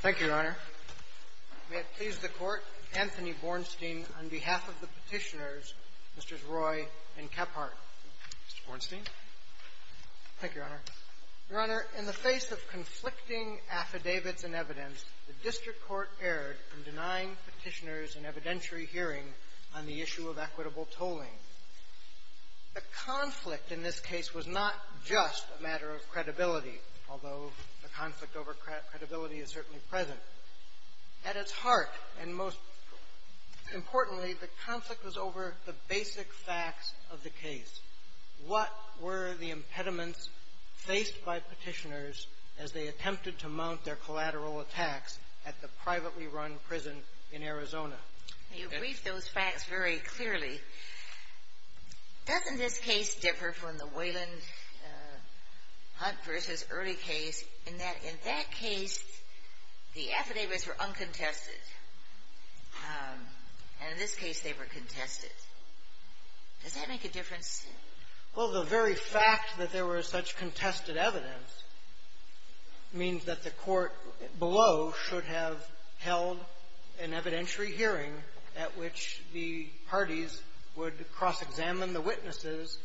Thank you, Your Honor. May it please the Court, Anthony Bornstein, on behalf of the Petitioners, Mr.s. Roy and Kephart. Mr. Bornstein. Thank you, Your Honor. Your Honor, in the face of conflicting affidavits and evidence, the District Court erred in denying Petitioners an evidentiary hearing on the issue of equitable tolling. The conflict in this case was not just a matter of credibility, although the conflict over credibility is certainly present. At its heart, and most importantly, the conflict was over the basic facts of the case. What were the impediments faced by Petitioners as they attempted to mount their collateral attacks at the privately run prison in Arizona? You briefed those facts very clearly. Doesn't this case differ from the Wayland Hunt v. Early case in that, in that case, the affidavits were uncontested. And in this case, they were contested. Does that make a difference? Well, the very fact that there was such contested evidence means that the court below should have held an evidentiary hearing at which the parties would cross-examine the witnesses,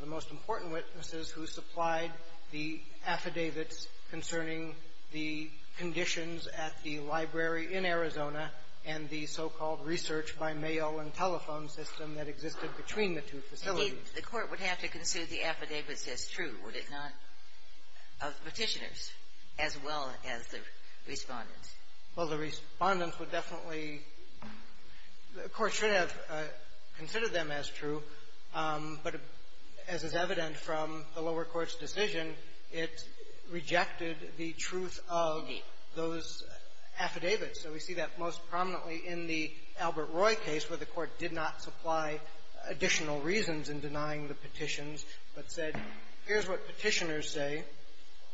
the most important witnesses, who supplied the affidavits concerning the conditions at the library in Arizona and the so-called research by mail and telephone system that existed between the two facilities. Indeed, the court would have to consider the affidavits as true, would it not, of Petitioners as well as the Respondents? Well, the Respondents would definitely – the court should have considered them as true, but as is evident from the lower court's decision, it rejected the truth of those affidavits. So we see that most prominently in the Albert Roy case, where the court did not supply additional reasons in denying the petitions, but said, here's what Petitioners say.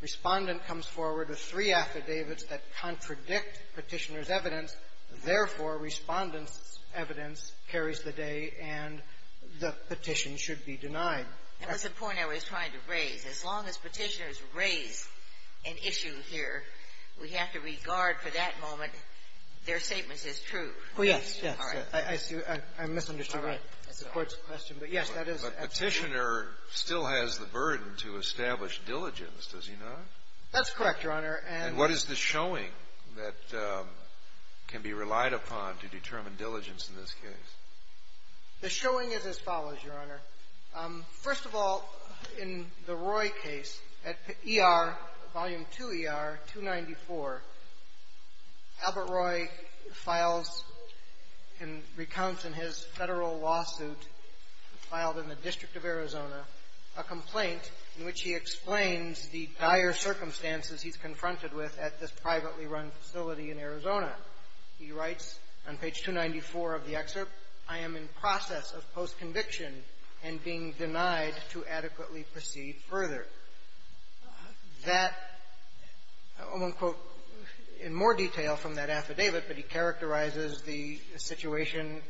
Respondent comes forward with three affidavits that contradict Petitioners' evidence. Therefore, Respondents' evidence carries the day and the petition should be denied. That was the point I was trying to raise. As long as Petitioners raise an issue here, we have to regard for that moment their statements as true. Oh, yes. Yes. All right. I see. I misunderstood that. All right. That's the court's question. But, yes, that is absolutely true. But Petitioner still has the burden to establish diligence, does he not? That's correct, Your Honor. And what is the showing that can be relied upon to determine diligence in this case? The showing is as follows, Your Honor. First of all, in the Roy case, at ER, Volume 2, ER 294, Albert Roy files and recounts in his federal lawsuit, filed in the District of Arizona, a complaint in which he explains the dire circumstances he's confronted with at this privately run facility in Arizona. He writes on page 294 of the excerpt, I am in process of post-conviction and being denied to adequately proceed further. That, I won't quote in more detail from that affidavit, but he characterizes the situation,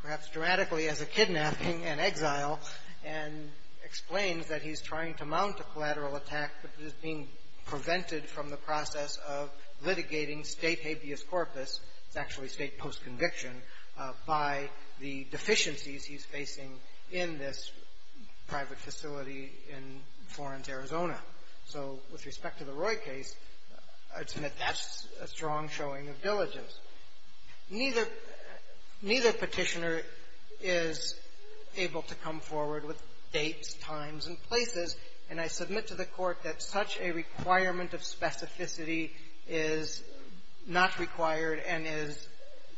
perhaps dramatically, as a kidnapping and exile and explains that he's trying to mount a collateral attack but is being prevented from the process of litigating state habeas corpus, it's actually state post-conviction, by the deficiencies he's facing in this private facility in Florence, Arizona. So with respect to the Roy case, I'd submit that's a strong showing of diligence. Neither petitioner is able to come forward with dates, times, and places. And I submit to the Court that such a requirement of specificity is not required and is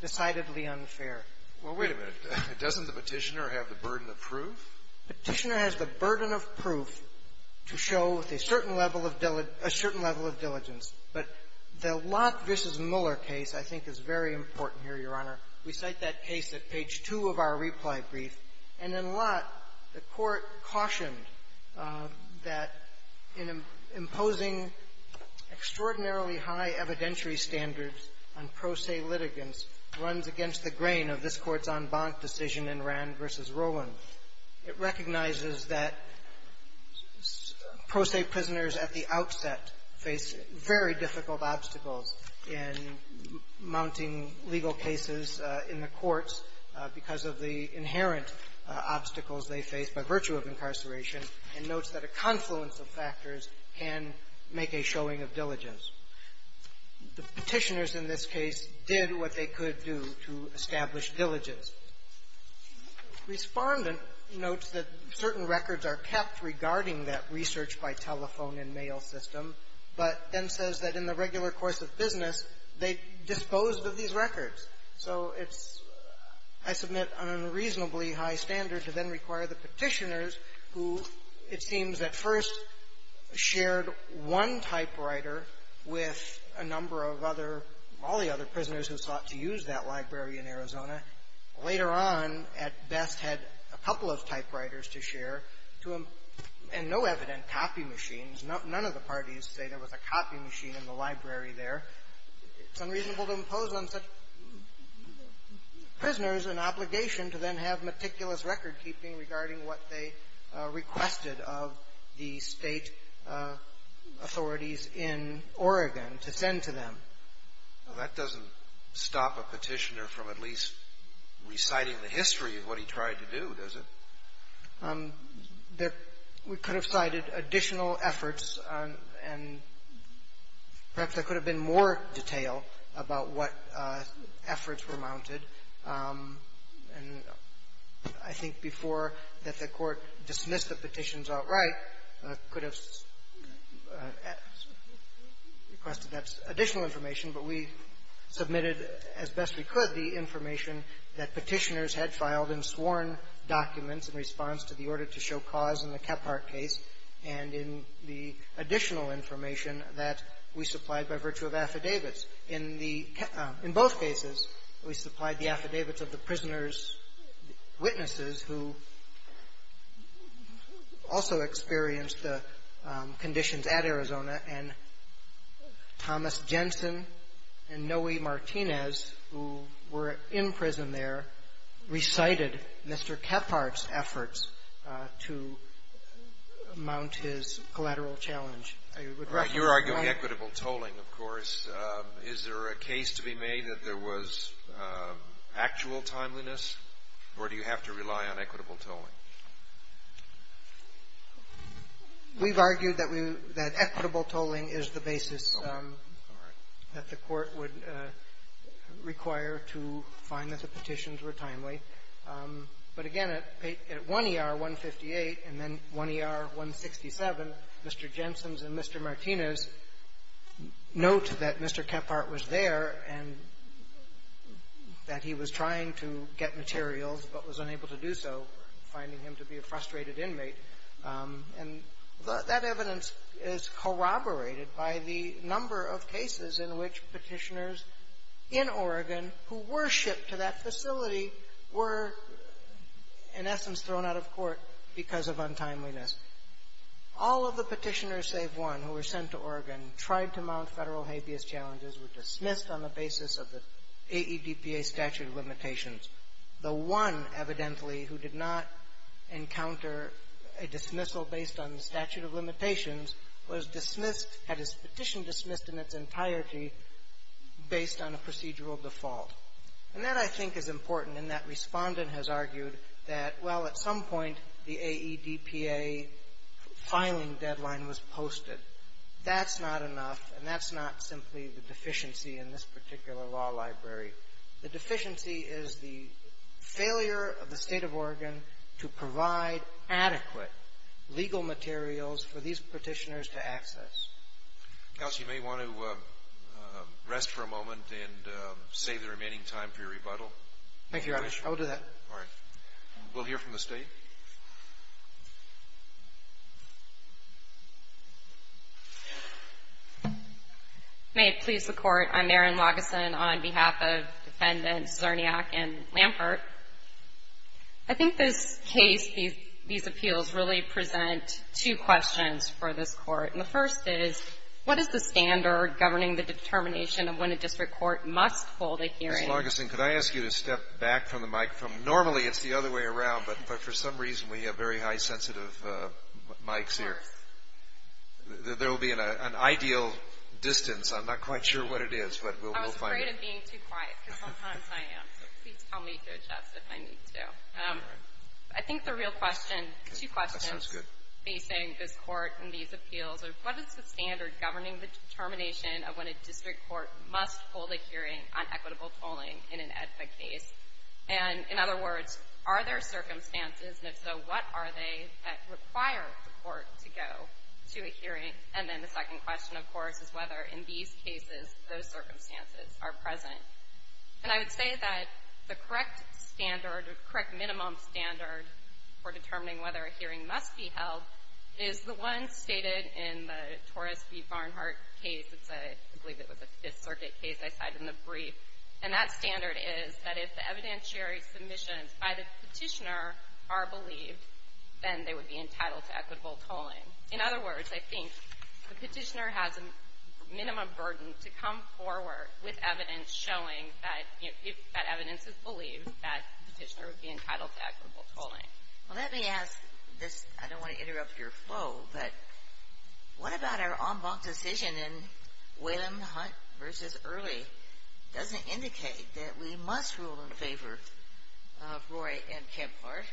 decidedly unfair. Well, wait a minute. Doesn't the petitioner have the burden of proof? Petitioner has the burden of proof to show a certain level of diligence. But the Lott v. Mueller case, I think, is very important here, Your Honor. We cite that case at page 2 of our reply brief. And in Lott, the Court cautioned that in imposing extraordinarily high evidentiary standards on pro se litigants runs against the grain of this Court's en banc decision in Rand v. Rowland. It recognizes that pro se prisoners at the outset face very difficult obstacles in mounting legal cases in the courts because of the inherent obstacles they face by virtue of incarceration, and notes that a confluence of factors can make a showing of diligence. The petitioners in this case did what they could do to establish diligence. Respondent notes that certain records are kept regarding that research-by-telephone-and-mail system, but then says that in the regular course of business, they disposed of these records. So it's — I submit an unreasonably high standard to then require the petitioners, who, it seems, at first shared one typewriter with a number of other — all the other prisoners who sought to use that library in Arizona, later on, at best, had a couple of typewriters to share, to — and no evident copy machines. None of the parties say there was a copy machine in the library there. It's unreasonable to impose on such prisoners an obligation to then have meticulous recordkeeping regarding what they requested of the State authorities in Oregon to send to them. Well, that doesn't stop a petitioner from at least reciting the history of what he tried to do, does it? We could have cited additional efforts, and perhaps there could have been more detail about what efforts were mounted. And I think before that the Court dismissed the petitions outright, could have requested additional information. But we submitted, as best we could, the information that petitioners had filed in sworn documents in response to the order to show cause in the Kephart case, and in the additional information that we supplied by virtue of affidavits. In the — in both cases, we supplied the affidavits of the prisoners' witnesses, who also experienced the conditions at Arizona. And Thomas Jensen and Noe Martinez, who were in prison there, recited Mr. Kephart's efforts to mount his collateral challenge. You're arguing equitable tolling, of course. Is there a case to be made that there was actual timeliness, or do you have to rely on equitable tolling? We've argued that equitable tolling is the basis that the Court would require to find that the petitions were timely. But again, at 1 ER 158 and then 1 ER 167, Mr. Jensen's and Mr. Martinez note that Mr. Kephart was there and that he was trying to get materials but was unable to do so, finding him to be a frustrated inmate. And that evidence is corroborated by the number of cases in which petitioners in Oregon who were shipped to that facility were, in essence, thrown out of court because of untimeliness. All of the petitioners save one who were sent to Oregon and tried to mount federal habeas challenges were dismissed on the basis of the AEDPA statute of limitations. The one, evidently, who did not encounter a dismissal based on the statute of limitations was dismissed, had his petition dismissed in its entirety based on a procedural default. And that, I think, is important in that Respondent has argued that, well, at some point, the AEDPA filing deadline was posted. That's not enough, and that's not simply the deficiency in this particular law library. The deficiency is the failure of the State of Oregon to provide adequate legal materials for these petitioners to access. Counsel, you may want to rest for a moment and save the remaining time for your rebuttal. Thank you, Your Honor. I will do that. All right. We'll hear from the State. May it please the Court, I'm Erin Lageson on behalf of Defendants Zerniak and Lampert. I think this case, these appeals, really present two questions for this Court. And the first is, what is the standard governing the determination of when a district court must hold a hearing? Ms. Lageson, could I ask you to step back from the microphone? Normally, it's the other way around, but for some reason, we have very high sensitive mics here. Of course. There will be an ideal distance. I'm not quite sure what it is, but we'll find it. I was afraid of being too quiet, because sometimes I am. So please tell me to adjust if I need to. All right. I think the real question, two questions. That sounds good. Facing this Court and these appeals, what is the standard governing the determining whether a hearing must be held? And in other words, are there circumstances? And if so, what are they that require the Court to go to a hearing? And then the second question, of course, is whether in these cases, those circumstances are present. And I would say that the correct standard, the correct minimum standard for determining whether a hearing must be held is the one stated in the Torres v. Barnhart case. I believe it was a Fifth Circuit case I cited in the brief. And that standard is that if the evidentiary submissions by the petitioner are believed, then they would be entitled to equitable tolling. In other words, I think the petitioner has a minimum burden to come forward with evidence showing that if that evidence is believed, that the petitioner would be entitled to equitable tolling. Well, let me ask this. I don't want to interrupt your flow, but what about our en banc decision in which it doesn't indicate that we must rule in favor of Roy and Kemphart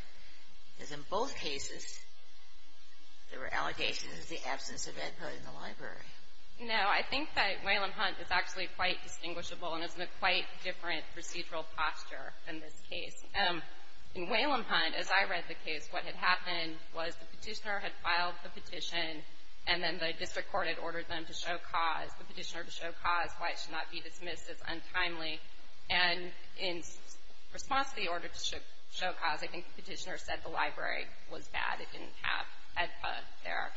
because in both cases, there were allegations of the absence of input in the library? No. I think that Whalum Hunt is actually quite distinguishable and is in a quite different procedural posture than this case. In Whalum Hunt, as I read the case, what had happened was the petitioner had filed the petition, and then the district court had ordered them to show cause, why it should not be dismissed as untimely. And in response to the order to show cause, I think the petitioner said the library was bad. It didn't have HEDPA there.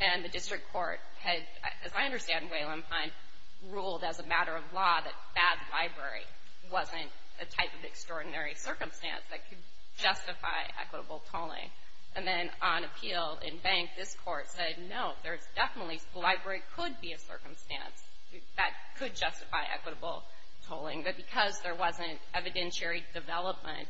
And the district court had, as I understand, Whalum Hunt ruled as a matter of law that a bad library wasn't a type of extraordinary circumstance that could justify equitable tolling. And then on appeal, en banc, this court said, no, there's definitely, the library could be a circumstance. That could justify equitable tolling. But because there wasn't evidentiary development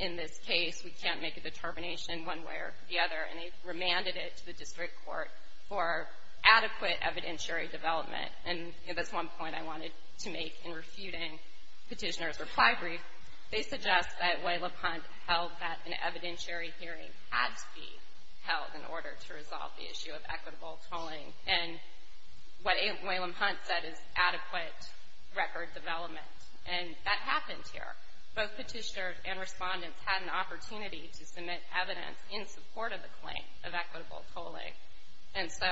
in this case, we can't make a determination one way or the other, and they remanded it to the district court for adequate evidentiary development. And that's one point I wanted to make in refuting Petitioner's reply brief. They suggest that Whalum Hunt held that an evidentiary hearing had to be held in order to resolve the issue of equitable tolling. And what Whalum Hunt said is adequate record development. And that happened here. Both petitioners and respondents had an opportunity to submit evidence in support of the claim of equitable tolling. And so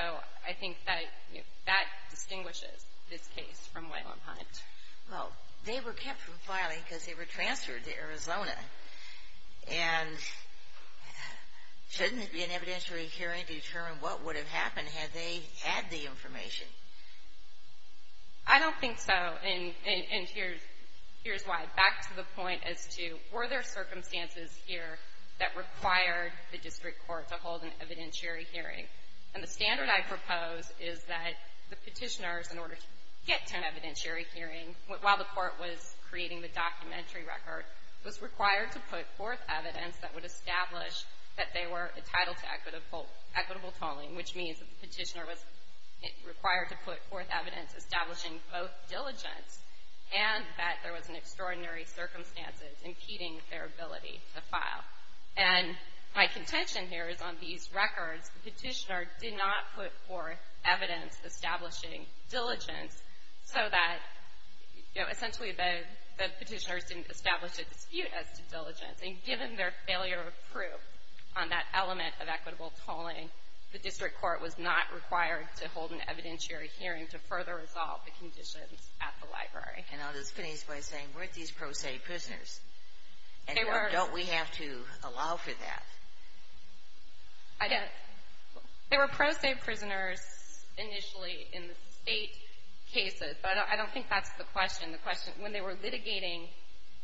I think that distinguishes this case from Whalum Hunt. Well, they were kept from filing because they were transferred to Arizona. And shouldn't it be an evidentiary hearing to determine what would have happened had they had the information? I don't think so. And here's why. Back to the point as to were there circumstances here that required the district court to hold an evidentiary hearing. And the standard I propose is that the petitioners, in order to get to an evidentiary hearing while the court was creating the documentary record, was required to put forth evidence that would establish that they were entitled to equitable tolling, which means the petitioner was required to put forth evidence establishing both diligence and that there was an extraordinary circumstance impeding their ability to file. And my contention here is on these records, the petitioner did not put forth evidence establishing diligence so that, you know, essentially the petitioners didn't establish a dispute as to diligence. And given their failure of proof on that element of equitable tolling, the district court was not required to hold an evidentiary hearing to further resolve the conditions at the library. And I'll just finish by saying, weren't these pro se prisoners? They were. And don't we have to allow for that? I don't. They were pro se prisoners initially in the state cases. But I don't think that's the question. The question, when they were litigating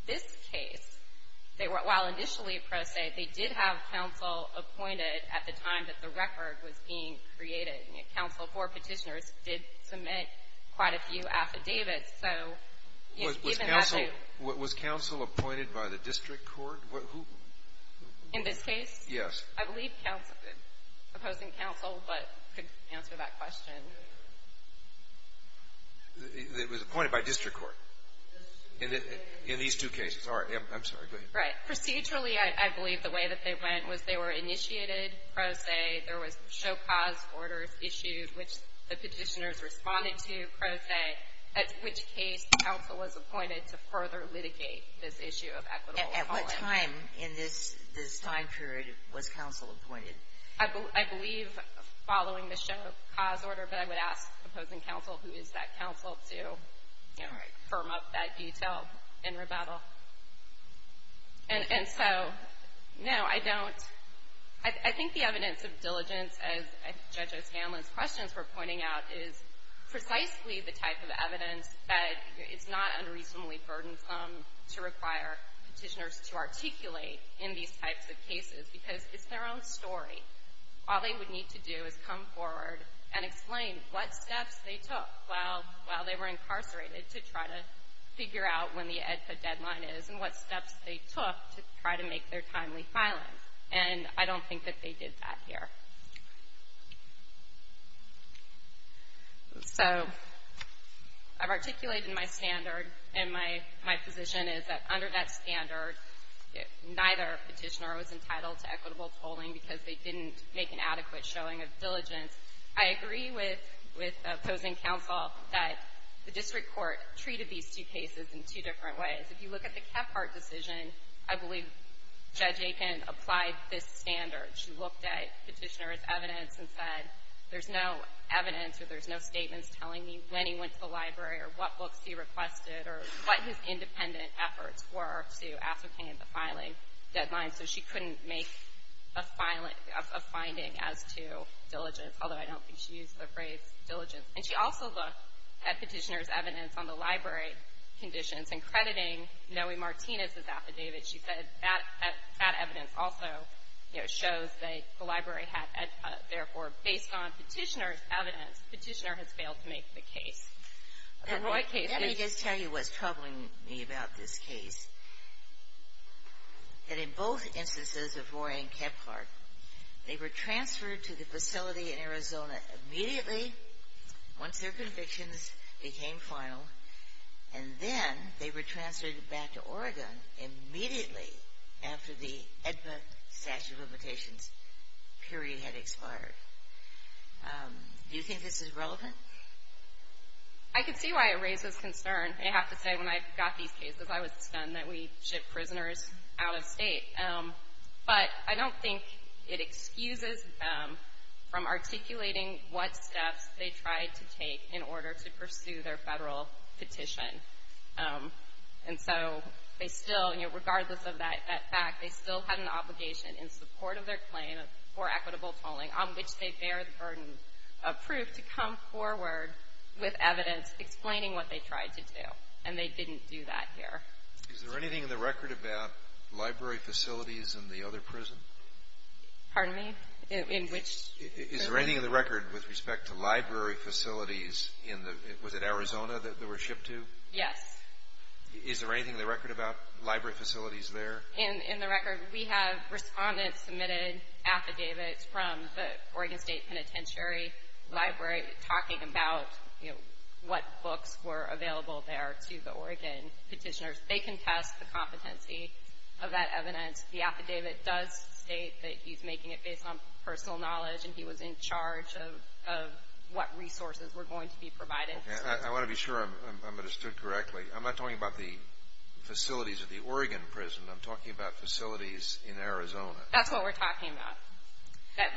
this case, while initially pro se, they did have counsel appointed at the time that the record was being created. Counsel for petitioners did submit quite a few affidavits. So, yes, even that too. Was counsel appointed by the district court? In this case? Yes. I believe counsel, opposing counsel, but could answer that question. It was appointed by district court in these two cases. All right. I'm sorry. Procedurally, I believe the way that they went was they were initiated pro se. There was show cause orders issued, which the petitioners responded to pro se, at which case counsel was appointed to further litigate this issue of equitable tolling. At what time in this time period was counsel appointed? I believe following the show cause order, but I would ask opposing counsel, who is that counsel, to firm up that detail in rebuttal. And so, no, I don't. I think the evidence of diligence, as Judges Hanlon's questions were pointing out, is precisely the type of evidence that is not unreasonably burdensome to require petitioners to articulate in these types of cases, because it's their own story. All they would need to do is come forward and explain what steps they took while they were incarcerated to try to figure out when the EDCA deadline is and what steps they took to try to make their timely filing. And I don't think that they did that here. So, I've articulated my standard, and my position is that under that standard, neither petitioner was entitled to equitable tolling because they didn't make an adequate showing of diligence. I agree with opposing counsel that the district court treated these two cases in two different ways. If you look at the Kephart decision, I believe Judge Aiken applied this standard. She looked at petitioner's evidence and said, there's no evidence or there's no statements telling me when he went to the library or what books he requested or what his independent efforts were to ascertain the filing deadline. So she couldn't make a filing, a finding as to diligence, although I don't think she used the phrase diligence. And she also looked at petitioner's evidence on the library conditions and crediting Noe Martinez's affidavit. She said that that evidence also, you know, shows that the library had EDCA. Therefore, based on petitioner's evidence, the petitioner has failed to make the case. Let me just tell you what's troubling me about this case. That in both instances of Roy and Kephart, they were transferred to the facility in Arizona immediately once their convictions became final, and then they were transferred back to Oregon immediately after the Edmund statute of limitations period had expired. Do you think this is relevant? I can see why it raises concern. I have to say, when I got these cases, I was stunned that we shipped prisoners out of state. But I don't think it excuses them from articulating what steps they tried to take in order to pursue their federal petition. And so they still, you know, regardless of that fact, they still had an obligation in support of their claim for equitable tolling on which they bear the burden of proof to come forward with evidence explaining what they tried to do. And they didn't do that here. Is there anything in the record about library facilities in the other prison? Pardon me? In which prison? Is there anything in the record with respect to library facilities in the, was it Arizona that they were shipped to? Yes. Is there anything in the record about library facilities there? In the record, we have respondents submitted affidavits from the Oregon State Penitentiary Library talking about what books were available there to the Oregon petitioners. They contest the competency of that evidence. The affidavit does state that he's making it based on personal knowledge and he was in charge of what resources were going to be provided. I want to be sure I'm understood correctly. I'm not talking about the facilities of the Oregon prison. I'm talking about facilities in Arizona. That's what we're talking about.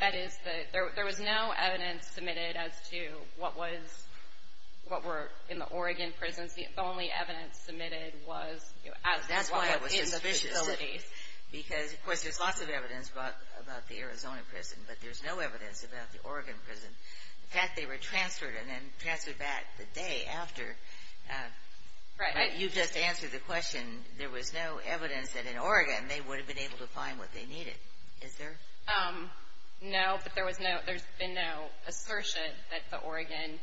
That is, there was no evidence submitted as to what was, what were in the Oregon prisons. The only evidence submitted was as to what was in the facilities. That's why I was suspicious of it. Because, of course, there's lots of evidence about the Arizona prison, but there's no evidence about the Oregon prison. In fact, they were transferred and then transferred back the day after. Right. You just answered the question. There was no evidence that in Oregon they would have been able to find what they needed. Is there? No, but there was no, there's been no assertion that the Oregon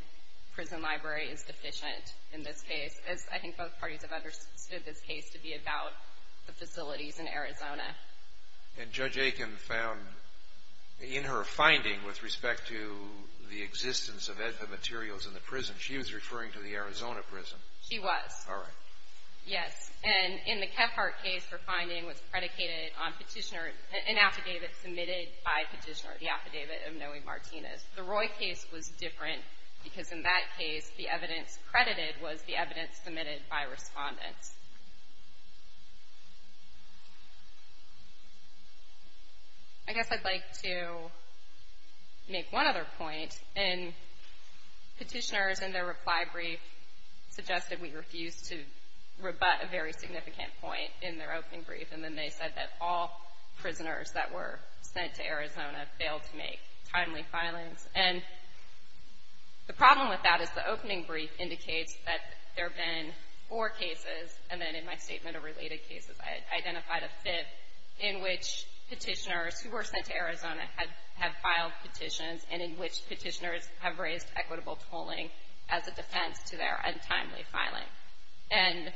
prison library is deficient in this case. As I think both parties have understood this case to be about the facilities in Arizona. And Judge Aiken found in her finding with respect to the existence of edva materials in the prison, she was referring to the Arizona prison. She was. All right. Yes. And in the Kephart case, her finding was predicated on petitioner, an affidavit submitted by petitioner, the affidavit of Noe Martinez. The Roy case was different because in that case, the evidence credited was the evidence submitted by respondents. I guess I'd like to make one other point. And petitioners in their reply brief suggested we refuse to rebut a very significant point in their opening brief. And then they said that all prisoners that were sent to Arizona failed to make timely filings. And the problem with that is the opening brief indicates that there have been four cases. And then in my statement of related cases, I identified a fifth in which petitioners who were sent to Arizona have filed petitions and in which petitioners have raised equitable tolling as a defense to their untimely filing. And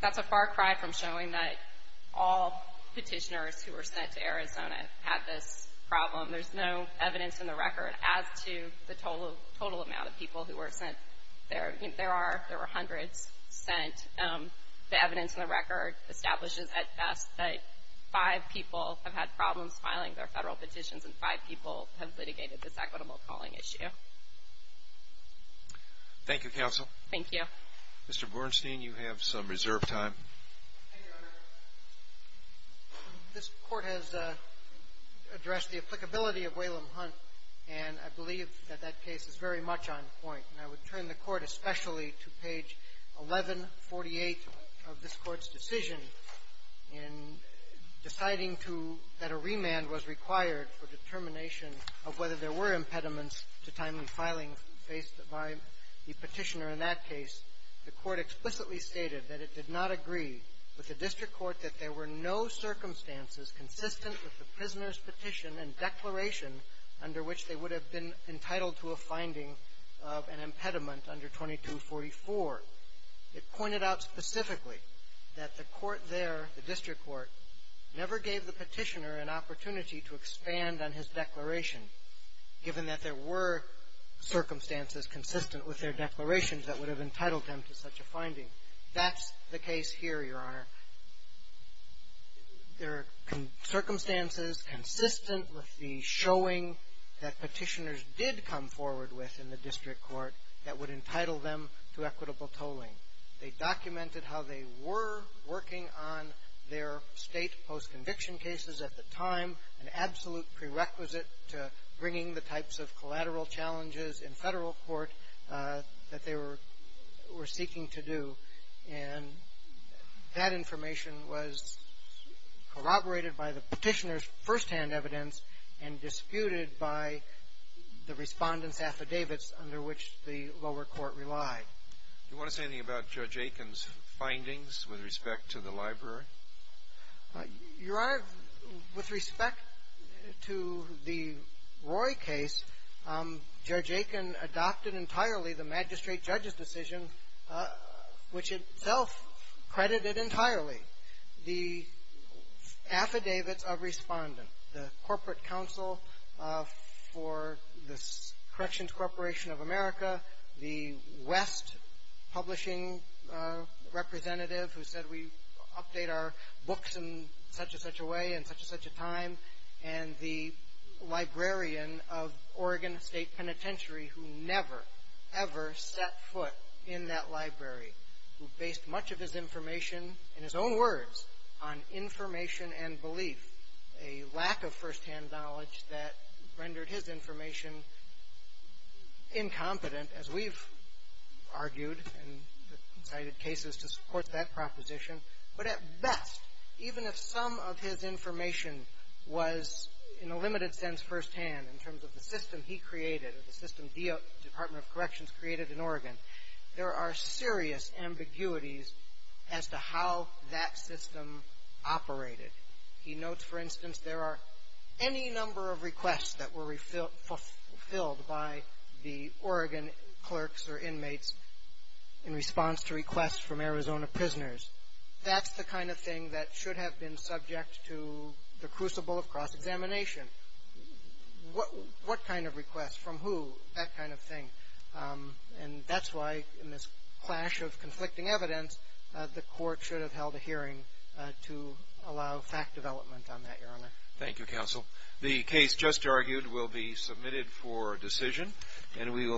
that's a far cry from showing that all petitioners who were sent to Arizona had this problem. There's no evidence in the record as to the total amount of people who were sent. There are. There were hundreds sent. The evidence in the record establishes at best that five people have had problems filing their federal petitions and five people have litigated this equitable calling issue. Thank you, Counsel. Thank you. Mr. Bornstein, you have some reserve time. Thank you, Your Honor. This Court has addressed the applicability of Whalum Hunt. And I believe that that case is very much on point. And I would turn the Court especially to page 1148 of this Court's decision in deciding that a remand was required for determination of whether there were impediments to timely filing faced by the petitioner in that case. The Court explicitly stated that it did not agree with the district court that there were no circumstances consistent with the prisoner's petition and declaration under which they would have been entitled to a finding of an impediment under 2244. It pointed out specifically that the court there, the district court, never gave the petitioner an opportunity to expand on his declaration, given that there were circumstances consistent with their declarations that would have entitled them to such a finding. That's the case here, Your Honor. There are circumstances consistent with the showing that petitioners did come forward with in the district court that would entitle them to equitable tolling. They documented how they were working on their state post-conviction cases at the time, an absolute prerequisite to bringing the types of collateral challenges in federal court that they were seeking to do. And that information was corroborated by the petitioner's firsthand evidence and disputed by the respondent's affidavits under which the lower court relied. Do you want to say anything about Judge Aiken's findings with respect to the library? Your Honor, with respect to the Roy case, Judge Aiken adopted entirely the magistrate judge's decision, which itself credited entirely. The affidavits of respondent, the corporate counsel for the Corrections Corporation of America, the West publishing representative who said, we update our books in such and such a way in such and such a time, and the librarian of Oregon State Penitentiary who never, ever set foot in that library, who based much of his information, in his own words, on information and belief, a lack of firsthand knowledge that rendered his information incompetent, as we've argued and cited cases to support that proposition. But at best, even if some of his information was in a limited sense firsthand, in terms of the system he created, the system the Department of Corrections created in Oregon, there are serious ambiguities as to how that system operated. He notes, for instance, there are any number of requests that were fulfilled by the Oregon clerks or inmates in response to requests from Arizona prisoners. That's the kind of thing that should have been subject to the crucible of cross-examination. What kind of request? From who? That kind of thing. And that's why in this clash of conflicting evidence, the court should have held a hearing to allow fact development on that, Your Honor. Thank you, Counsel. The case just argued will be submitted for decision.